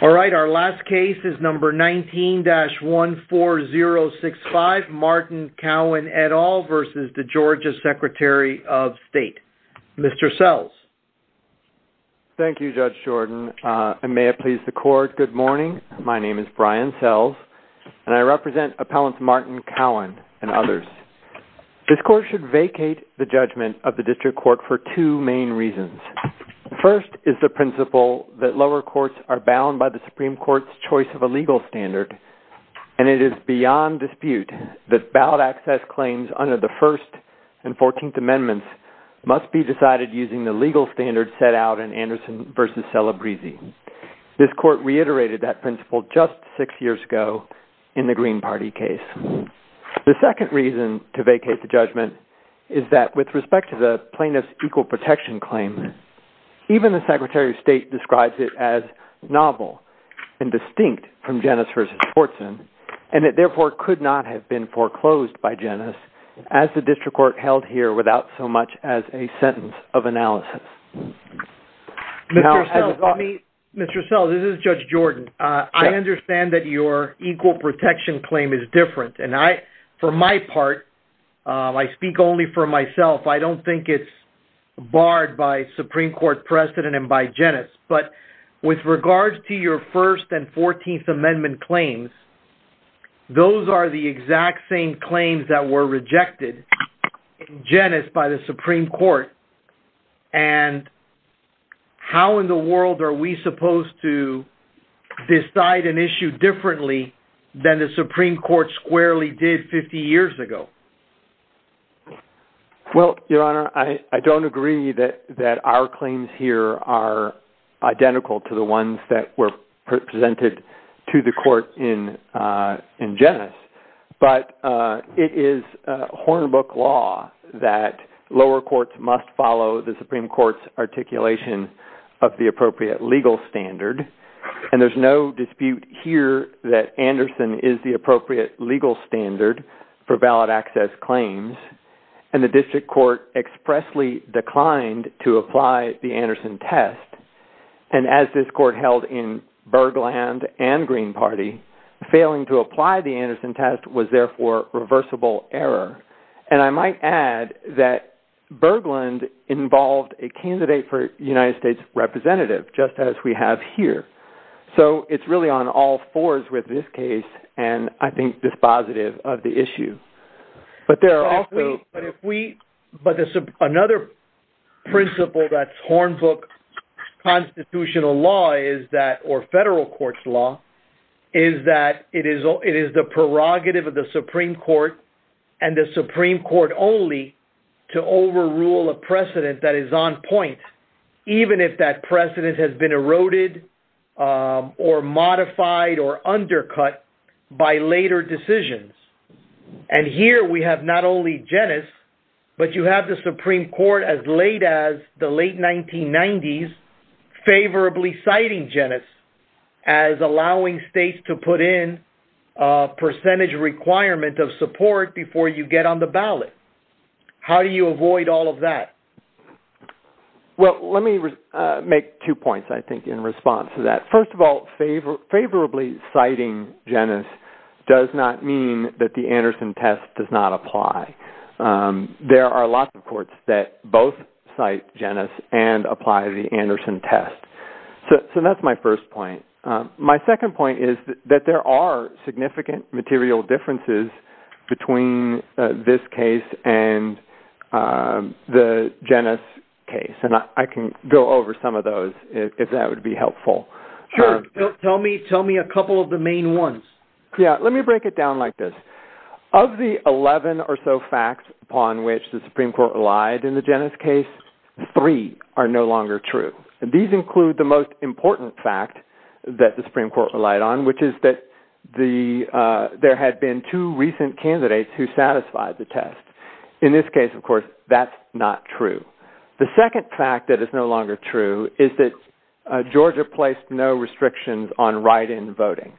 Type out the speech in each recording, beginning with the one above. All right, our last case is number 19-14065, Martin Cowen et al. v. Georgia Secretary of State. Mr. Sells. Thank you, Judge Jordan, and may it please the court, good morning. My name is Brian Sells, and I represent Appellants Martin Cowen and others. This court should vacate the judgment of the district court for two main reasons. First is the principle that lower courts are bound by the Supreme Court's choice of a legal standard, and it is beyond dispute that ballot access claims under the First and Fourteenth Amendments must be decided using the legal standards set out in Anderson v. Celebrezzi. This court reiterated that principle just six years ago in the Green Party case. The second reason to vacate the judgment is that, with respect to the plaintiff's equal protection claim, even the Secretary of State describes it as novel and distinct from Jenis v. Schwartzen, and it therefore could not have been foreclosed by Jenis as the district court held here without so much as a sentence of analysis. Mr. Sells, this is Judge Jordan. I understand that your equal protection claim is different, and I, for my part, I speak only for myself. I don't think it's barred by Supreme Court precedent and by Jenis, but with regards to your First and Fourteenth Amendment claims, those are the exact same claims that were rejected in Jenis by the Supreme Court, and how in the world are we supposed to decide an issue differently than the Supreme Court squarely did 50 years ago? Well, Your Honor, I don't agree that our claims here are identical to the ones that were presented to the court in Jenis, but it is Hornbook law that lower courts must follow the Supreme Court's articulation of the appropriate legal standard, and there's no dispute here that Anderson is the appropriate legal standard for valid access claims, and the district court expressly declined to apply the Anderson test, and as this court held in Berglund and Green Party, failing to apply the Anderson test was therefore reversible error, and I might add that Berglund involved a candidate for United States representative, just as we have here, so it's really on all fours with this case, and I think this positive of the issue, but there are also... But another principle that's Hornbook constitutional law is that, or federal court's law, is that it is the prerogative of the Supreme Court only to overrule a precedent that is on point, even if that precedent has been eroded or modified or undercut by later decisions, and here we have not only Jenis, but you have the Supreme Court as late as the late 1990s favorably citing Jenis as allowing states to put in a valid. How do you avoid all of that? Well, let me make two points, I think, in response to that. First of all, favorably citing Jenis does not mean that the Anderson test does not apply. There are lots of courts that both cite Jenis and apply the Anderson test, so that's my first point. My second point is that there are significant material differences between this case and the Jenis case, and I can go over some of those if that would be helpful. Sure. Tell me a couple of the main ones. Yeah, let me break it down like this. Of the 11 or so facts upon which the Supreme Court relied in the Jenis case, three are no longer true, and these include the most important fact that the Supreme Court relied on, which is that there had been two recent candidates who satisfied the test. In this case, of course, that's not true. The second fact that is no longer true is that Georgia placed no restrictions on write-in voting.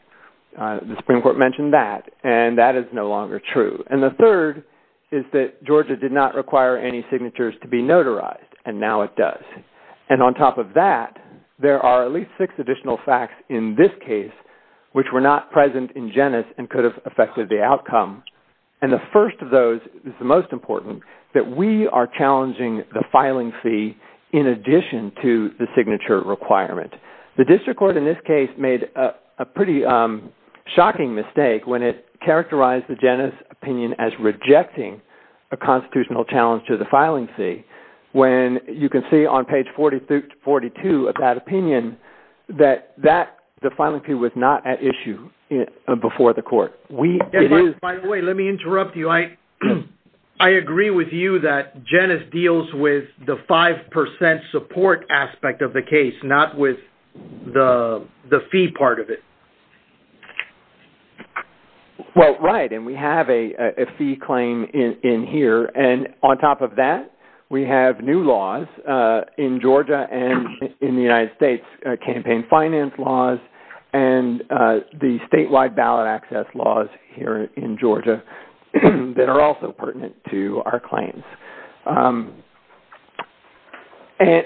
The Supreme Court mentioned that, and that is no longer true. And the third is that Georgia did not require any signatures to be notarized, and now it does. And on top of that, there are at least six additional facts in this case which were not present in Jenis and could have affected the outcome. And the first of those is the most important, that we are challenging the filing fee in addition to the signature requirement. The district court in this case made a pretty shocking mistake when it characterized the Jenis opinion as rejecting a constitutional challenge to the filing fee, when you can see on page 42 of that opinion that the filing fee was not at issue before the court. By the way, let me interrupt you. I agree with you that Jenis deals with the 5% support aspect of the case, not with the fee part of it. Well, right. And we have a fee claim in here. And on top of that, we have new laws in Georgia and in the United States, campaign finance laws and the statewide ballot access laws here in Georgia that are also pertinent to our claims. And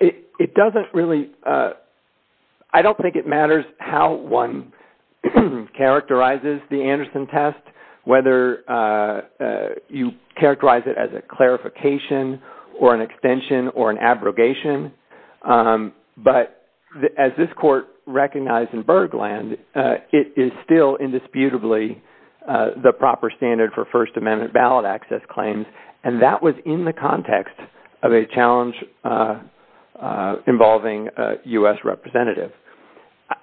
it doesn't really I don't think it matters how one characterizes the Anderson test, whether you characterize it as a clarification or an extension or an abrogation. But as this court recognized in Bergland, it is still indisputably the proper standard for First Amendment ballot access claims. And that was in the context of a challenge involving a U.S. representative.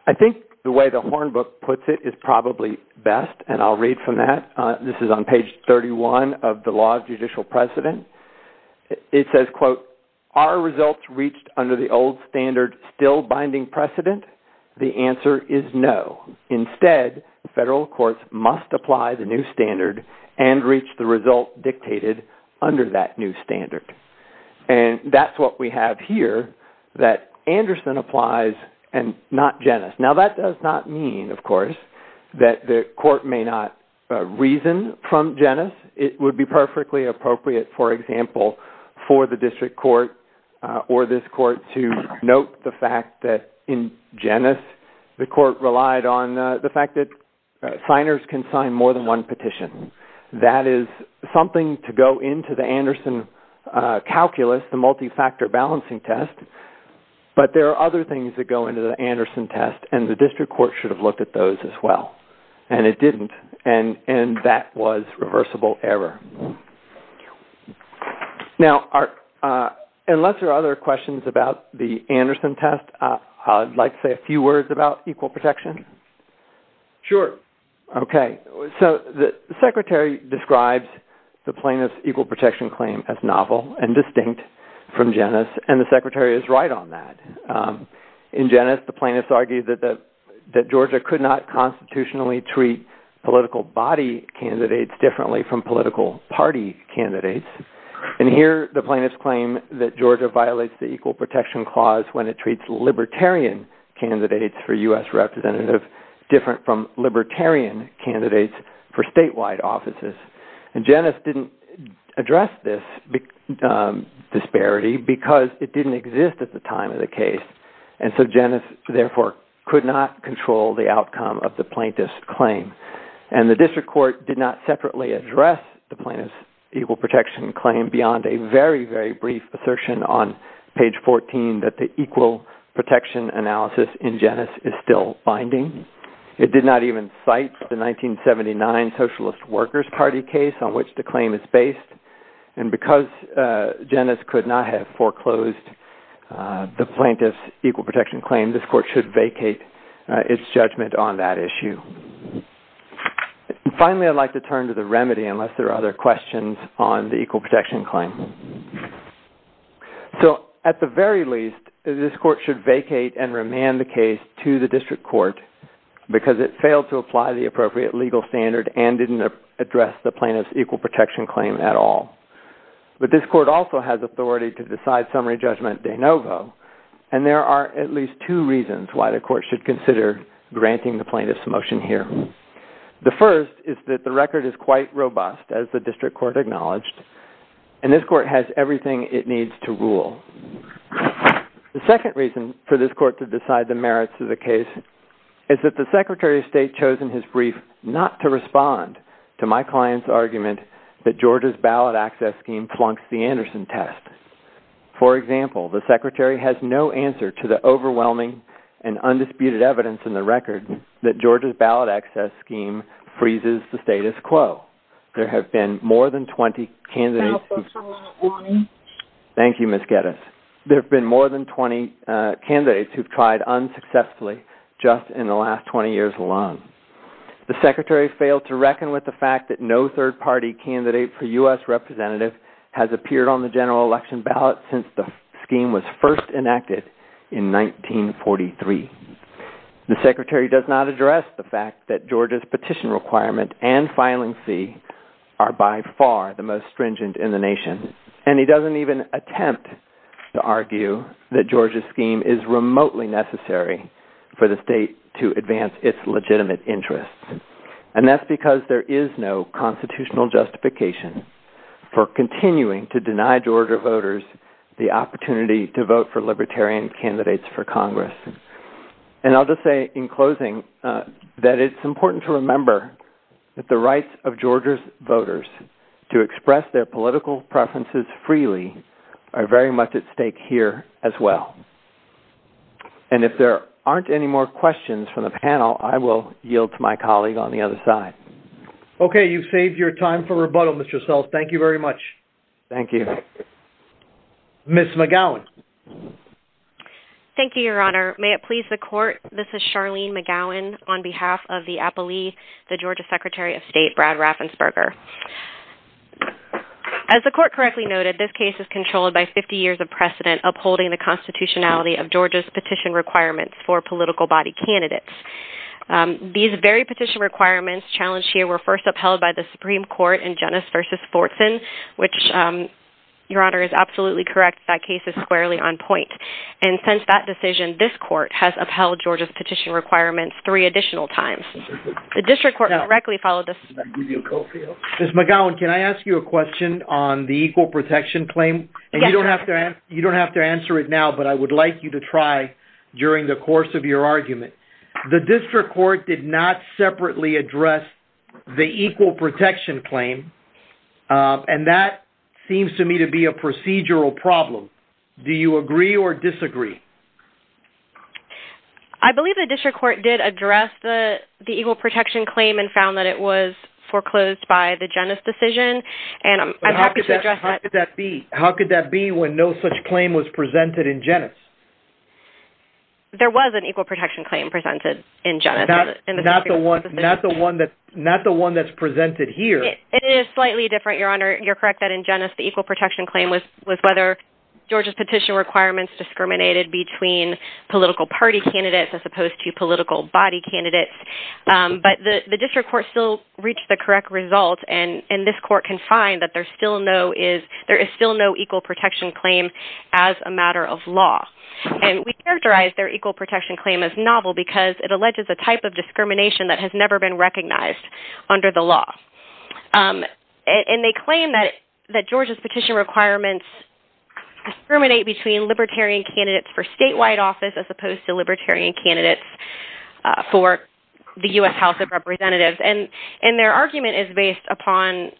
I think the way the Hornbook puts it is probably best. And I'll read from that. This is on page 31 of the law of judicial precedent. It says, quote, our results reached under the old standard still binding precedent. The answer is no. Instead, federal courts must apply the new standard and reach the result dictated under that new standard. And that's what we have here, that Anderson applies and not Genes. Now, that does not mean, of course, that the court may not reason from Genes. It would be perfectly appropriate, for example, for the district court or this court to note the fact that in Genes, the court relied on the fact that signers can sign more than one petition. That is something to go into the Anderson calculus, the multi-factor balancing test. But there are other things that go into the Anderson test, and the district court should have looked at those as well. And it didn't. And that was reversible error. Now, unless there are other questions about the Anderson test, I'd like to say a few words about equal protection. Sure. Okay. So the secretary describes the plaintiff's equal protection claim as novel and distinct from Genes. And the secretary is right on that. In Genes, the plaintiffs argue that Georgia could not constitutionally treat political body candidates differently from political party candidates. And here, the plaintiffs claim that Georgia violates the libertarian candidates for U.S. representative different from libertarian candidates for statewide offices. And Genes didn't address this disparity because it didn't exist at the time of the case. And so Genes, therefore, could not control the outcome of the plaintiff's claim. And the district court did not separately address the plaintiff's equal protection claim beyond a very, very brief assertion on page 14 that the equal protection analysis in Genes is still binding. It did not even cite the 1979 Socialist Workers Party case on which the claim is based. And because Genes could not have foreclosed the plaintiff's equal protection claim, this court should vacate its judgment on that issue. Finally, I'd like to turn to the remedy, unless there are other questions on the equal protection claim. So at the very least, this court should vacate and remand the case to the district court because it failed to apply the appropriate legal standard and didn't address the plaintiff's equal protection claim at all. But this court also has authority to decide summary judgment de novo. And there are at least two reasons why the court should consider granting the plaintiff's motion here. The first is that the record is quite robust, as the district court acknowledged, and this court has everything it needs to rule. The second reason for this court to decide the merits of the case is that the Secretary of State chosen his brief not to respond to my client's argument that Georgia's ballot access scheme flunks the Anderson test. For example, the Secretary has no answer to the overwhelming and undisputed evidence in the record that Georgia's ballot access scheme freezes the status quo. There have been more than 20 candidates. Thank you, Ms. Geddes. There have been more than 20 candidates who've tried unsuccessfully just in the last 20 years alone. The Secretary failed to reckon with the fact that no third party candidate for US representative has appeared on the general election ballot since the scheme was first enacted in 1943. The Secretary does not address the fact that Georgia's petition requirement and filing fee are by far the most stringent in the nation. And he doesn't even attempt to argue that Georgia's scheme is remotely necessary for the state to advance its legitimate interests. And that's because there is no constitutional justification for continuing to deny Georgia voters the opportunity to vote for libertarian candidates for Congress. And I'll just say in closing, that it's important to remember that the rights of Georgia's voters to express their political preferences freely are very much at stake here as well. And if there aren't any more questions from the panel, I will yield to my colleague on the other side. Okay, you've saved your time for rebuttal, thank you very much. Thank you. Ms. McGowan. Thank you, Your Honor. May it please the Court, this is Charlene McGowan on behalf of the Appellee, the Georgia Secretary of State, Brad Raffensperger. As the Court correctly noted, this case is controlled by 50 years of precedent upholding the constitutionality of Georgia's petition requirements for political body candidates. These very petition requirements challenged here were first upheld by the Fortson case, which Your Honor is absolutely correct, that case is squarely on point. And since that decision, this Court has upheld Georgia's petition requirements three additional times. The district court directly followed this. Ms. McGowan, can I ask you a question on the equal protection claim? And you don't have to answer it now, but I would like you to try during the course of your argument. The district court did not separately address the equal protection claim. And that seems to me to be a procedural problem. Do you agree or disagree? I believe the district court did address the equal protection claim and found that it was foreclosed by the Genes decision. And I'm happy to address that. How could that be when no such claim was presented in Genes? There was an equal protection claim presented in Genes. Not the one that's presented here. It is slightly different, Your Honor. You're correct that in Genes, the equal protection claim was whether Georgia's petition requirements discriminated between political party candidates as opposed to political body candidates. But the district court still reached the correct result. And this court can find that there is still no equal protection claim as a matter of law. And we characterize their equal protection claim as novel because it alleges a type of discrimination that has never been recognized under the law. And they claim that Georgia's petition requirements discriminate between libertarian candidates for statewide office as opposed to libertarian candidates for the U.S. House of Representatives. And their argument is based upon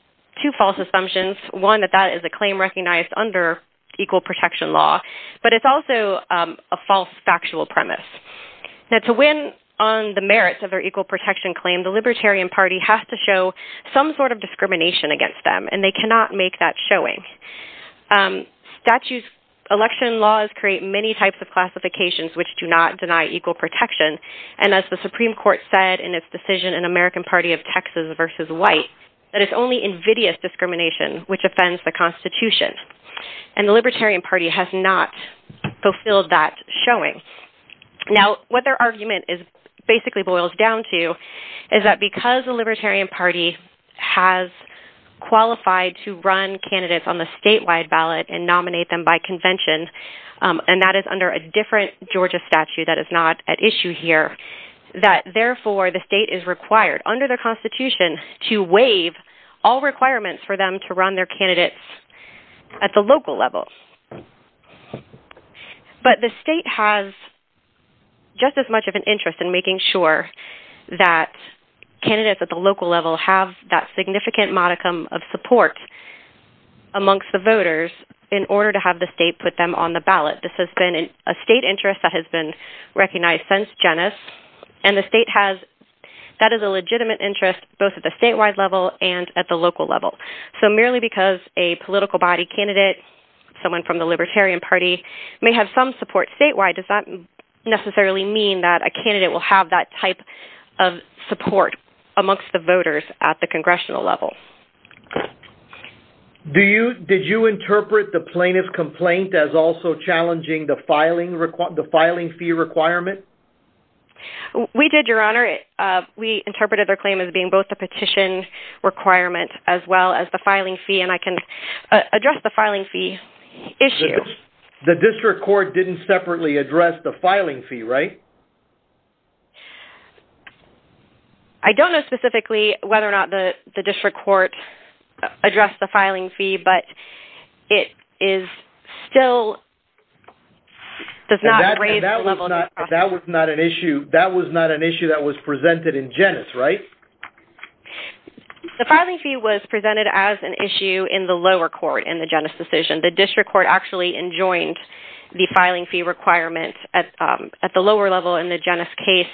two false assumptions. One, that that is a claim recognized under equal protection law. But it's also a false factual premise. Now, to win on the merits of their equal protection claim, the Libertarian Party has to show some sort of discrimination against them. And they cannot make that showing. Election laws create many types of classifications, which do not deny equal protection. And as the Supreme Court said in its decision in American Party of Texas versus white, that it's only invidious discrimination, which offends the Constitution. And the Libertarian Party has not fulfilled that showing. Now, what their argument is basically boils down to is that because the Libertarian Party has qualified to run candidates on the statewide ballot and nominate them by convention, and that is under a different Georgia statute that is not at issue here, that therefore the state is required under the Constitution to waive all requirements for them to run their candidates at the local level. But the state has just as much of an interest in making sure that candidates at the local level have that significant modicum of support amongst the voters in order to have the state put them on the ballot. This has been a state interest that has been recognized since Genes. And the state has, that is a legitimate interest both at the merely because a political body candidate, someone from the Libertarian Party may have some support statewide does not necessarily mean that a candidate will have that type of support amongst the voters at the congressional level. Do you, did you interpret the plaintiff complaint as also challenging the filing, the filing fee requirement? We did, your honor. We interpreted their claim as being both the and I can address the filing fee issue. The district court didn't separately address the filing fee, right? I don't know specifically whether or not the district court addressed the filing fee, but it is still, does not raise the level. That was not an issue, that was not The filing fee was presented as an issue in the lower court in the Genes decision. The district court actually enjoined the filing fee requirement at the lower level in the Genes case.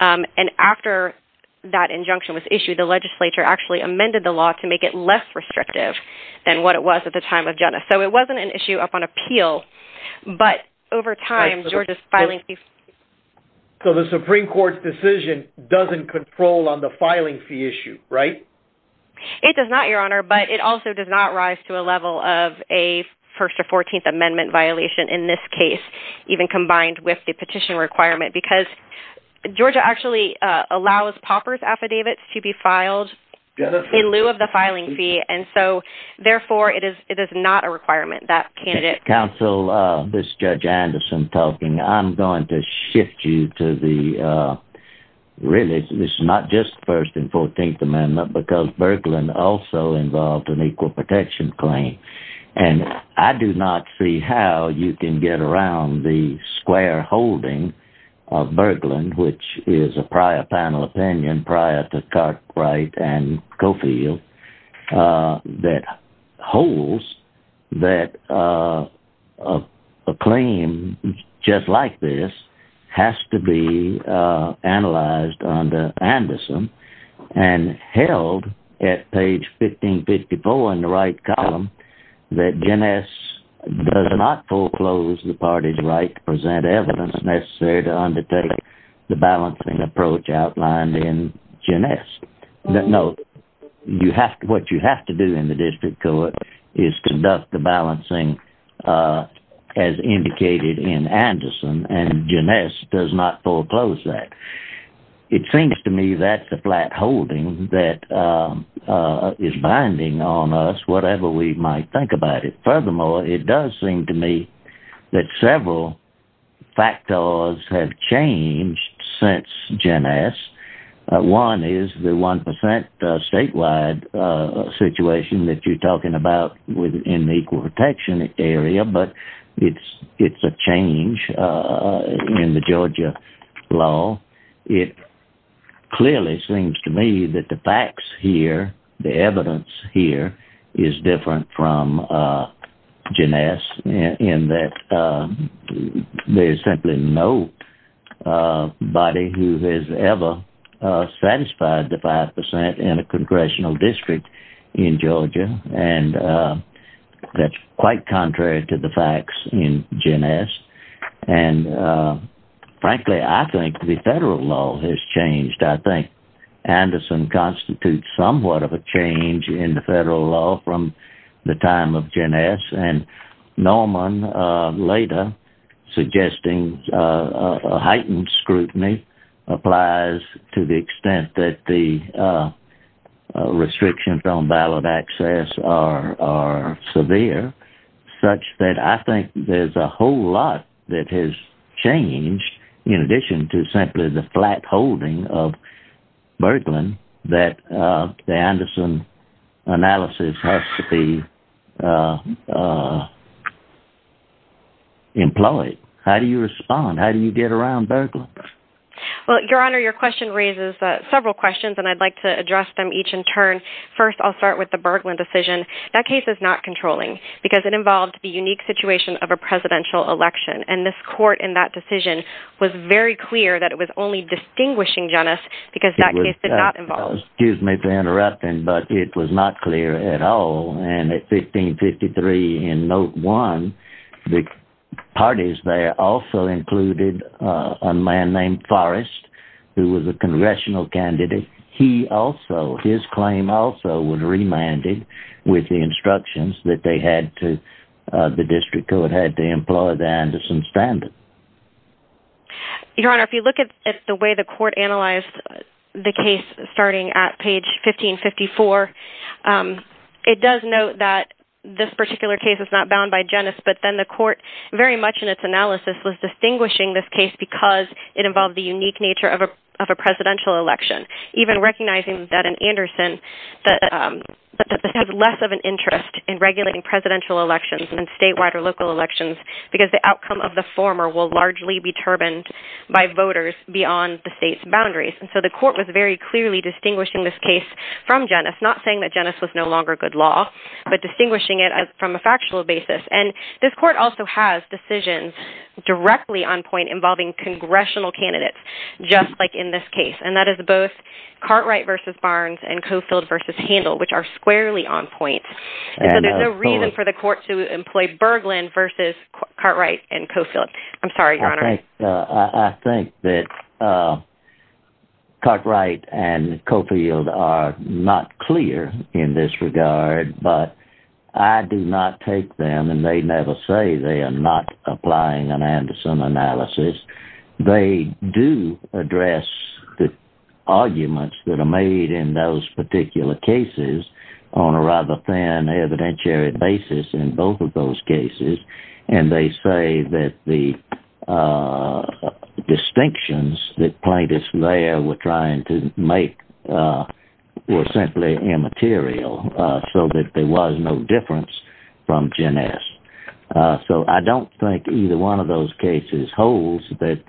And after that injunction was issued, the legislature actually amended the law to make it less restrictive than what it was at the time of Genes. So it wasn't an issue up on appeal, but over time, Georgia's filing fees. So the Supreme court's decision doesn't control on the filing fee issue, right? It does not, your honor, but it also does not rise to a level of a first or 14th amendment violation in this case, even combined with the petition requirement, because Georgia actually allows Pauper's affidavits to be filed in lieu of the filing fee. And so therefore it is, it is not a requirement that candidate counsel, this judge Anderson talking, I'm going to shift you to the really, this is not just first and 14th amendment because Berglund also involved in equal protection claim. And I do not see how you can get around the square holding of Berglund, which is a prior panel opinion prior to Cartwright and Cofield, uh, that holds that, uh, uh, a claim just like this has to be, uh, analyzed on the Anderson and held at page 1554 in the right column that Gen S does not foreclose the party's right to present evidence necessary to undertake the balancing approach outlined in Janice. No, you have to, what you have to do in the district court is conduct the balancing, uh, as indicated in Anderson and Janice does not foreclose that. It seems to me that the flat holding that, um, uh, is binding on us, whatever we might think about it. Furthermore, it does seem to me that several factors have changed since Janice. Uh, one is the 1%, uh, statewide, uh, situation that you're talking about within the equal protection area, but it's, it's a change, uh, in the Georgia law. It clearly seems to me that the facts here, the evidence here is different from, uh, Janice in that, um, there's simply no, uh, body who has ever, uh, satisfied the 5% in a congressional district in Georgia. And, uh, that's quite contrary to the facts in Janice. And, uh, frankly, I think the federal law has changed. I think Anderson constitutes somewhat of a change in the federal law from the time of Janice and Norman, uh, later suggesting, uh, a heightened scrutiny applies to the extent that the, uh, uh, restrictions on ballot access are, are severe such that I think there's a whole lot that has changed in addition to simply the flat holding of Berglund that, uh, the Anderson analysis has to be, uh, uh, employed. How do you respond? How do you get around Berglund? Well, your honor, your question raises several questions and I'd like to address them each in turn. First, I'll start with the Berglund decision. That case is not controlling because it was very clear that it was only distinguishing Janice because that case did not involve, excuse me for interrupting, but it was not clear at all. And at 1553 in note one, the parties there also included, uh, a man named Forrest who was a congressional candidate. He also, his claim also was remanded with the instructions that they had to, uh, the district who had had to employ the Anderson standard. Your honor, if you look at the way the court analyzed the case starting at page 1554, um, it does note that this particular case is not bound by Janice, but then the court very much in its analysis was distinguishing this case because it involved the unique nature of a, of a presidential election, even recognizing that an Anderson that, um, but that has less of an interest in regulating presidential elections and statewide or local elections because the outcome of the former will largely be turbaned by voters beyond the state's boundaries. And so the court was very clearly distinguishing this case from Janice, not saying that Janice was no longer good law, but distinguishing it as from a factual basis. And this court also has decisions directly on point involving congressional candidates, just like in this case. And that is both Cartwright versus Barnes and Cofield versus Handel, which are squarely on point. And so there's no reason for the court to employ Berglund versus Cartwright and Cofield. I'm sorry, your honor. I think that, uh, Cartwright and Cofield are not clear in this regard, but I do not take them and they never say they are not applying an Anderson analysis. They do address the arguments that are on a rather thin evidentiary basis in both of those cases. And they say that the, uh, distinctions that plaintiffs there were trying to make, uh, were simply immaterial, uh, so that there was no difference from Janice. Uh, so I don't think either one of those cases holds that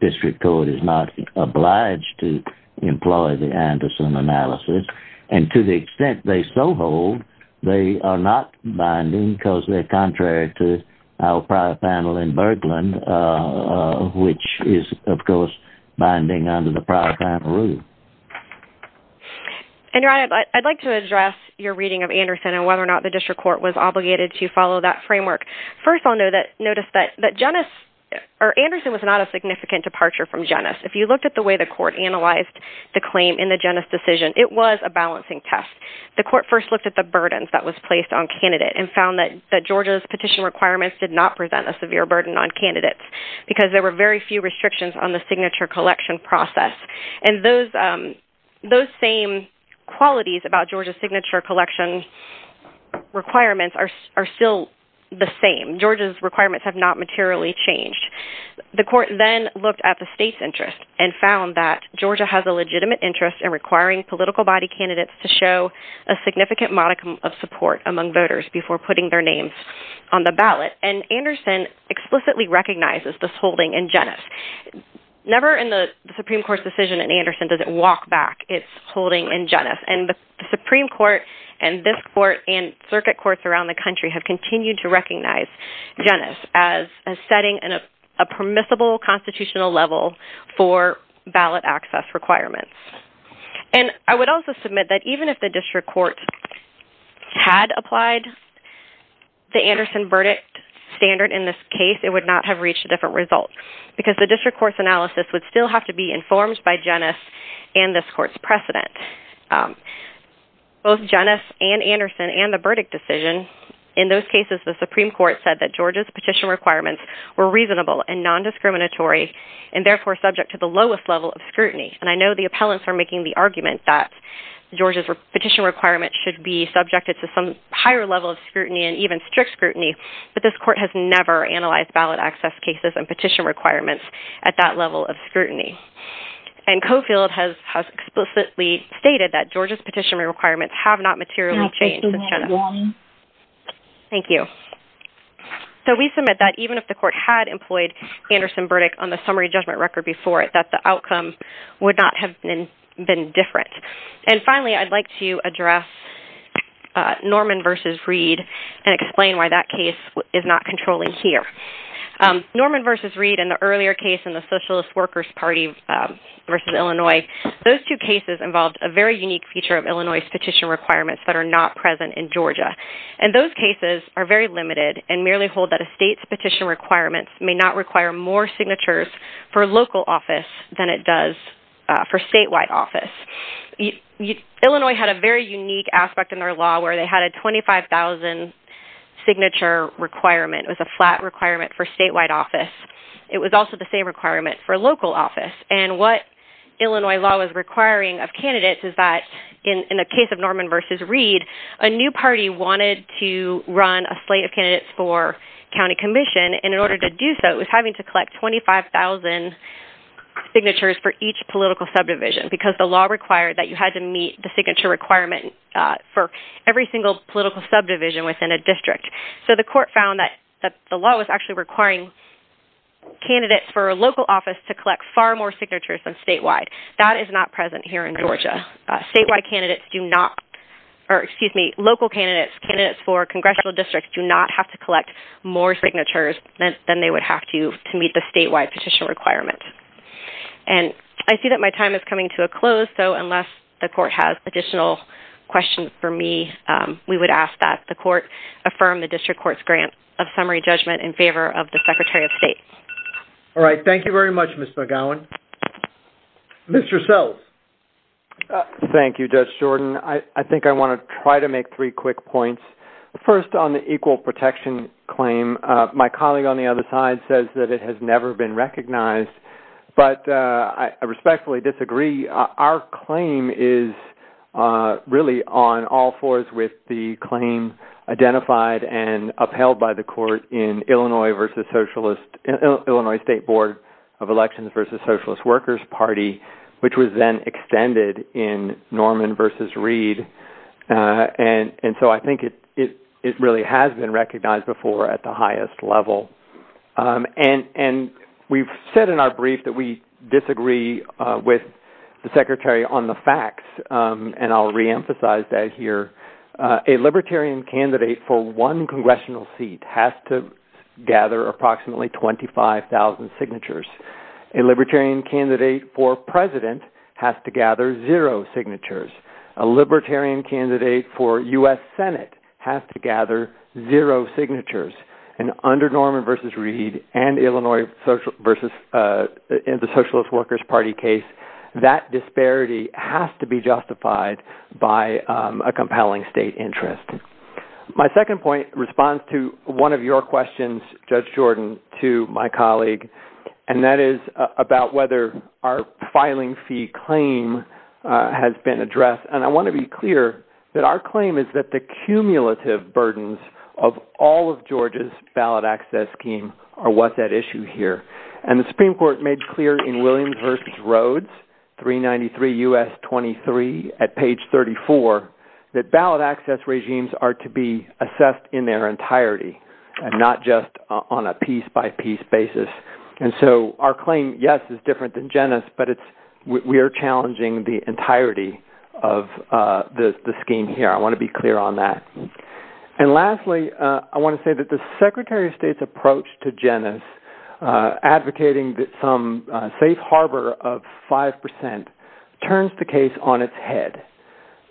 district court is not obliged to employ the Anderson analysis. And to the extent they so hold, they are not binding because they're contrary to our prior panel in Berglund, uh, which is of course, binding under the prior panel rule. And I'd like to address your reading of Anderson and whether or not the district court was obligated to follow that framework. First, I'll know that notice that Janice or Anderson was not a significant departure from Janice. If you looked at the way the court analyzed the claim in the Janice decision, it was a balancing test. The court first looked at the burdens that was placed on candidate and found that Georgia's petition requirements did not present a severe burden on candidates because there were very few restrictions on the signature collection process. And those, um, those same qualities about Georgia's signature collection requirements are, are still the same. Georgia's requirements have not materially changed. The court then looked at the state's interest and found that Georgia has a legitimate interest in requiring political body candidates to show a significant modicum of support among voters before putting their names on the ballot. And Anderson explicitly recognizes this holding in Janice, never in the Supreme court decision in Anderson, does it walk back it's holding in and the Supreme court and this court and circuit courts around the country have continued to recognize Janice as a setting and a permissible constitutional level for ballot access requirements. And I would also submit that even if the district court had applied the Anderson verdict standard in this case, it would not have reached a different result because the district court's analysis would still have to be informed by Janice and this court's precedent, um, both Janice and Anderson and the verdict decision. In those cases, the Supreme court said that Georgia's petition requirements were reasonable and non-discriminatory and therefore subject to the lowest level of scrutiny. And I know the appellants are making the argument that Georgia's petition requirements should be subjected to some higher level of scrutiny and even strict scrutiny, but this court has never analyzed ballot access cases and petition requirements at that level of scrutiny. And Coffield has explicitly stated that Georgia's petition requirements have not materially changed. Thank you. So we submit that even if the court had employed Anderson verdict on the summary judgment record before it, that the outcome would not have been different. And finally, I'd like to address Norman versus Reed and explain why that case is not controlling here. Um, Norman versus Reed in the earlier case in the socialist workers party versus Illinois, those two cases involved a very unique feature of Illinois petition requirements that are not present in Georgia. And those cases are very limited and merely hold that a state's petition requirements may not require more signatures for local office than it does for statewide office. Illinois had a very unique aspect in their law where they had a 25,000 signature requirement with a flat requirement for statewide office. It was also the same requirement for local office. And what Illinois law was requiring of candidates is that in the case of Norman versus Reed, a new party wanted to run a slate of candidates for county commission. And in order to do so, it was having to collect 25,000 signatures for each political subdivision because the law required that you had to meet the signature requirement for every single political subdivision within a district. So the court found that the law was actually requiring candidates for a local office to collect far more signatures than statewide. That is not present here in Georgia. Statewide candidates do not, or excuse me, local candidates, candidates for congressional districts do not have to collect more signatures than they would have to to meet the statewide petition requirement. And I see that my time is coming to a close. So unless the court has additional questions for me, we would ask that the court affirm the district court's grant of summary judgment in favor of the Secretary of State. All right. Thank you very much, Ms. McGowan. Mr. Self. Thank you, Judge Jordan. I think I want to try to make three quick points. First on the equal protection claim, my colleague on the other side says that it has never been recognized, but I respectfully disagree. Our claim is really on all fours with the claim identified and upheld by the court in Illinois versus Socialist, Illinois State Board of Elections versus Socialist Workers Party, which was then extended in Norman versus Reed. And so I think it really has been recognized before at the highest level. And we've said in our brief that we disagree with the Secretary on the facts, and I'll reemphasize that here. A libertarian candidate for one congressional seat has to gather approximately 25,000 signatures. A libertarian candidate for president has to under Norman versus Reed and Illinois versus the Socialist Workers Party case, that disparity has to be justified by a compelling state interest. My second point responds to one of your questions, Judge Jordan, to my colleague, and that is about whether our filing fee claim has been addressed. And I want to be clear that our claim is that the cumulative burdens of all of Georgia's ballot access scheme are what's at issue here. And the Supreme Court made clear in Williams versus Rhodes, 393 U.S. 23 at page 34, that ballot access regimes are to be assessed in their entirety, and not just on a piece by piece basis. And so our claim, yes, is different than Jenna's, but we are challenging the entirety of the scheme here. I want to be clear on that. And lastly, I want to say that the Secretary of State's approach to Jenna's advocating that some safe harbor of 5% turns the case on its head.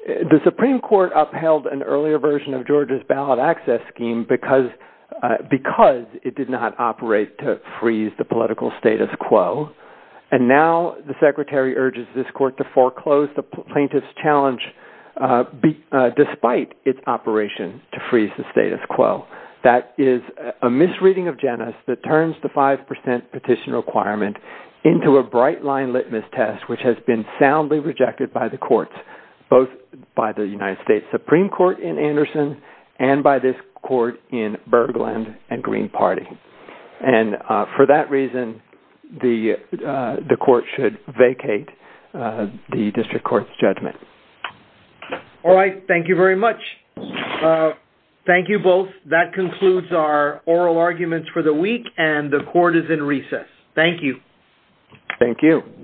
The Supreme Court upheld an earlier version of Georgia's ballot access scheme because it did not operate to freeze the political status quo. And now the Secretary urges this challenge, despite its operation to freeze the status quo. That is a misreading of Jenna's that turns the 5% petition requirement into a bright line litmus test, which has been soundly rejected by the courts, both by the United States Supreme Court in Anderson and by this court in Berglund and Green Party. And for that reason, the court should vacate the district court's judgment. All right. Thank you very much. Thank you both. That concludes our oral arguments for the week, and the court is in recess. Thank you. Thank you.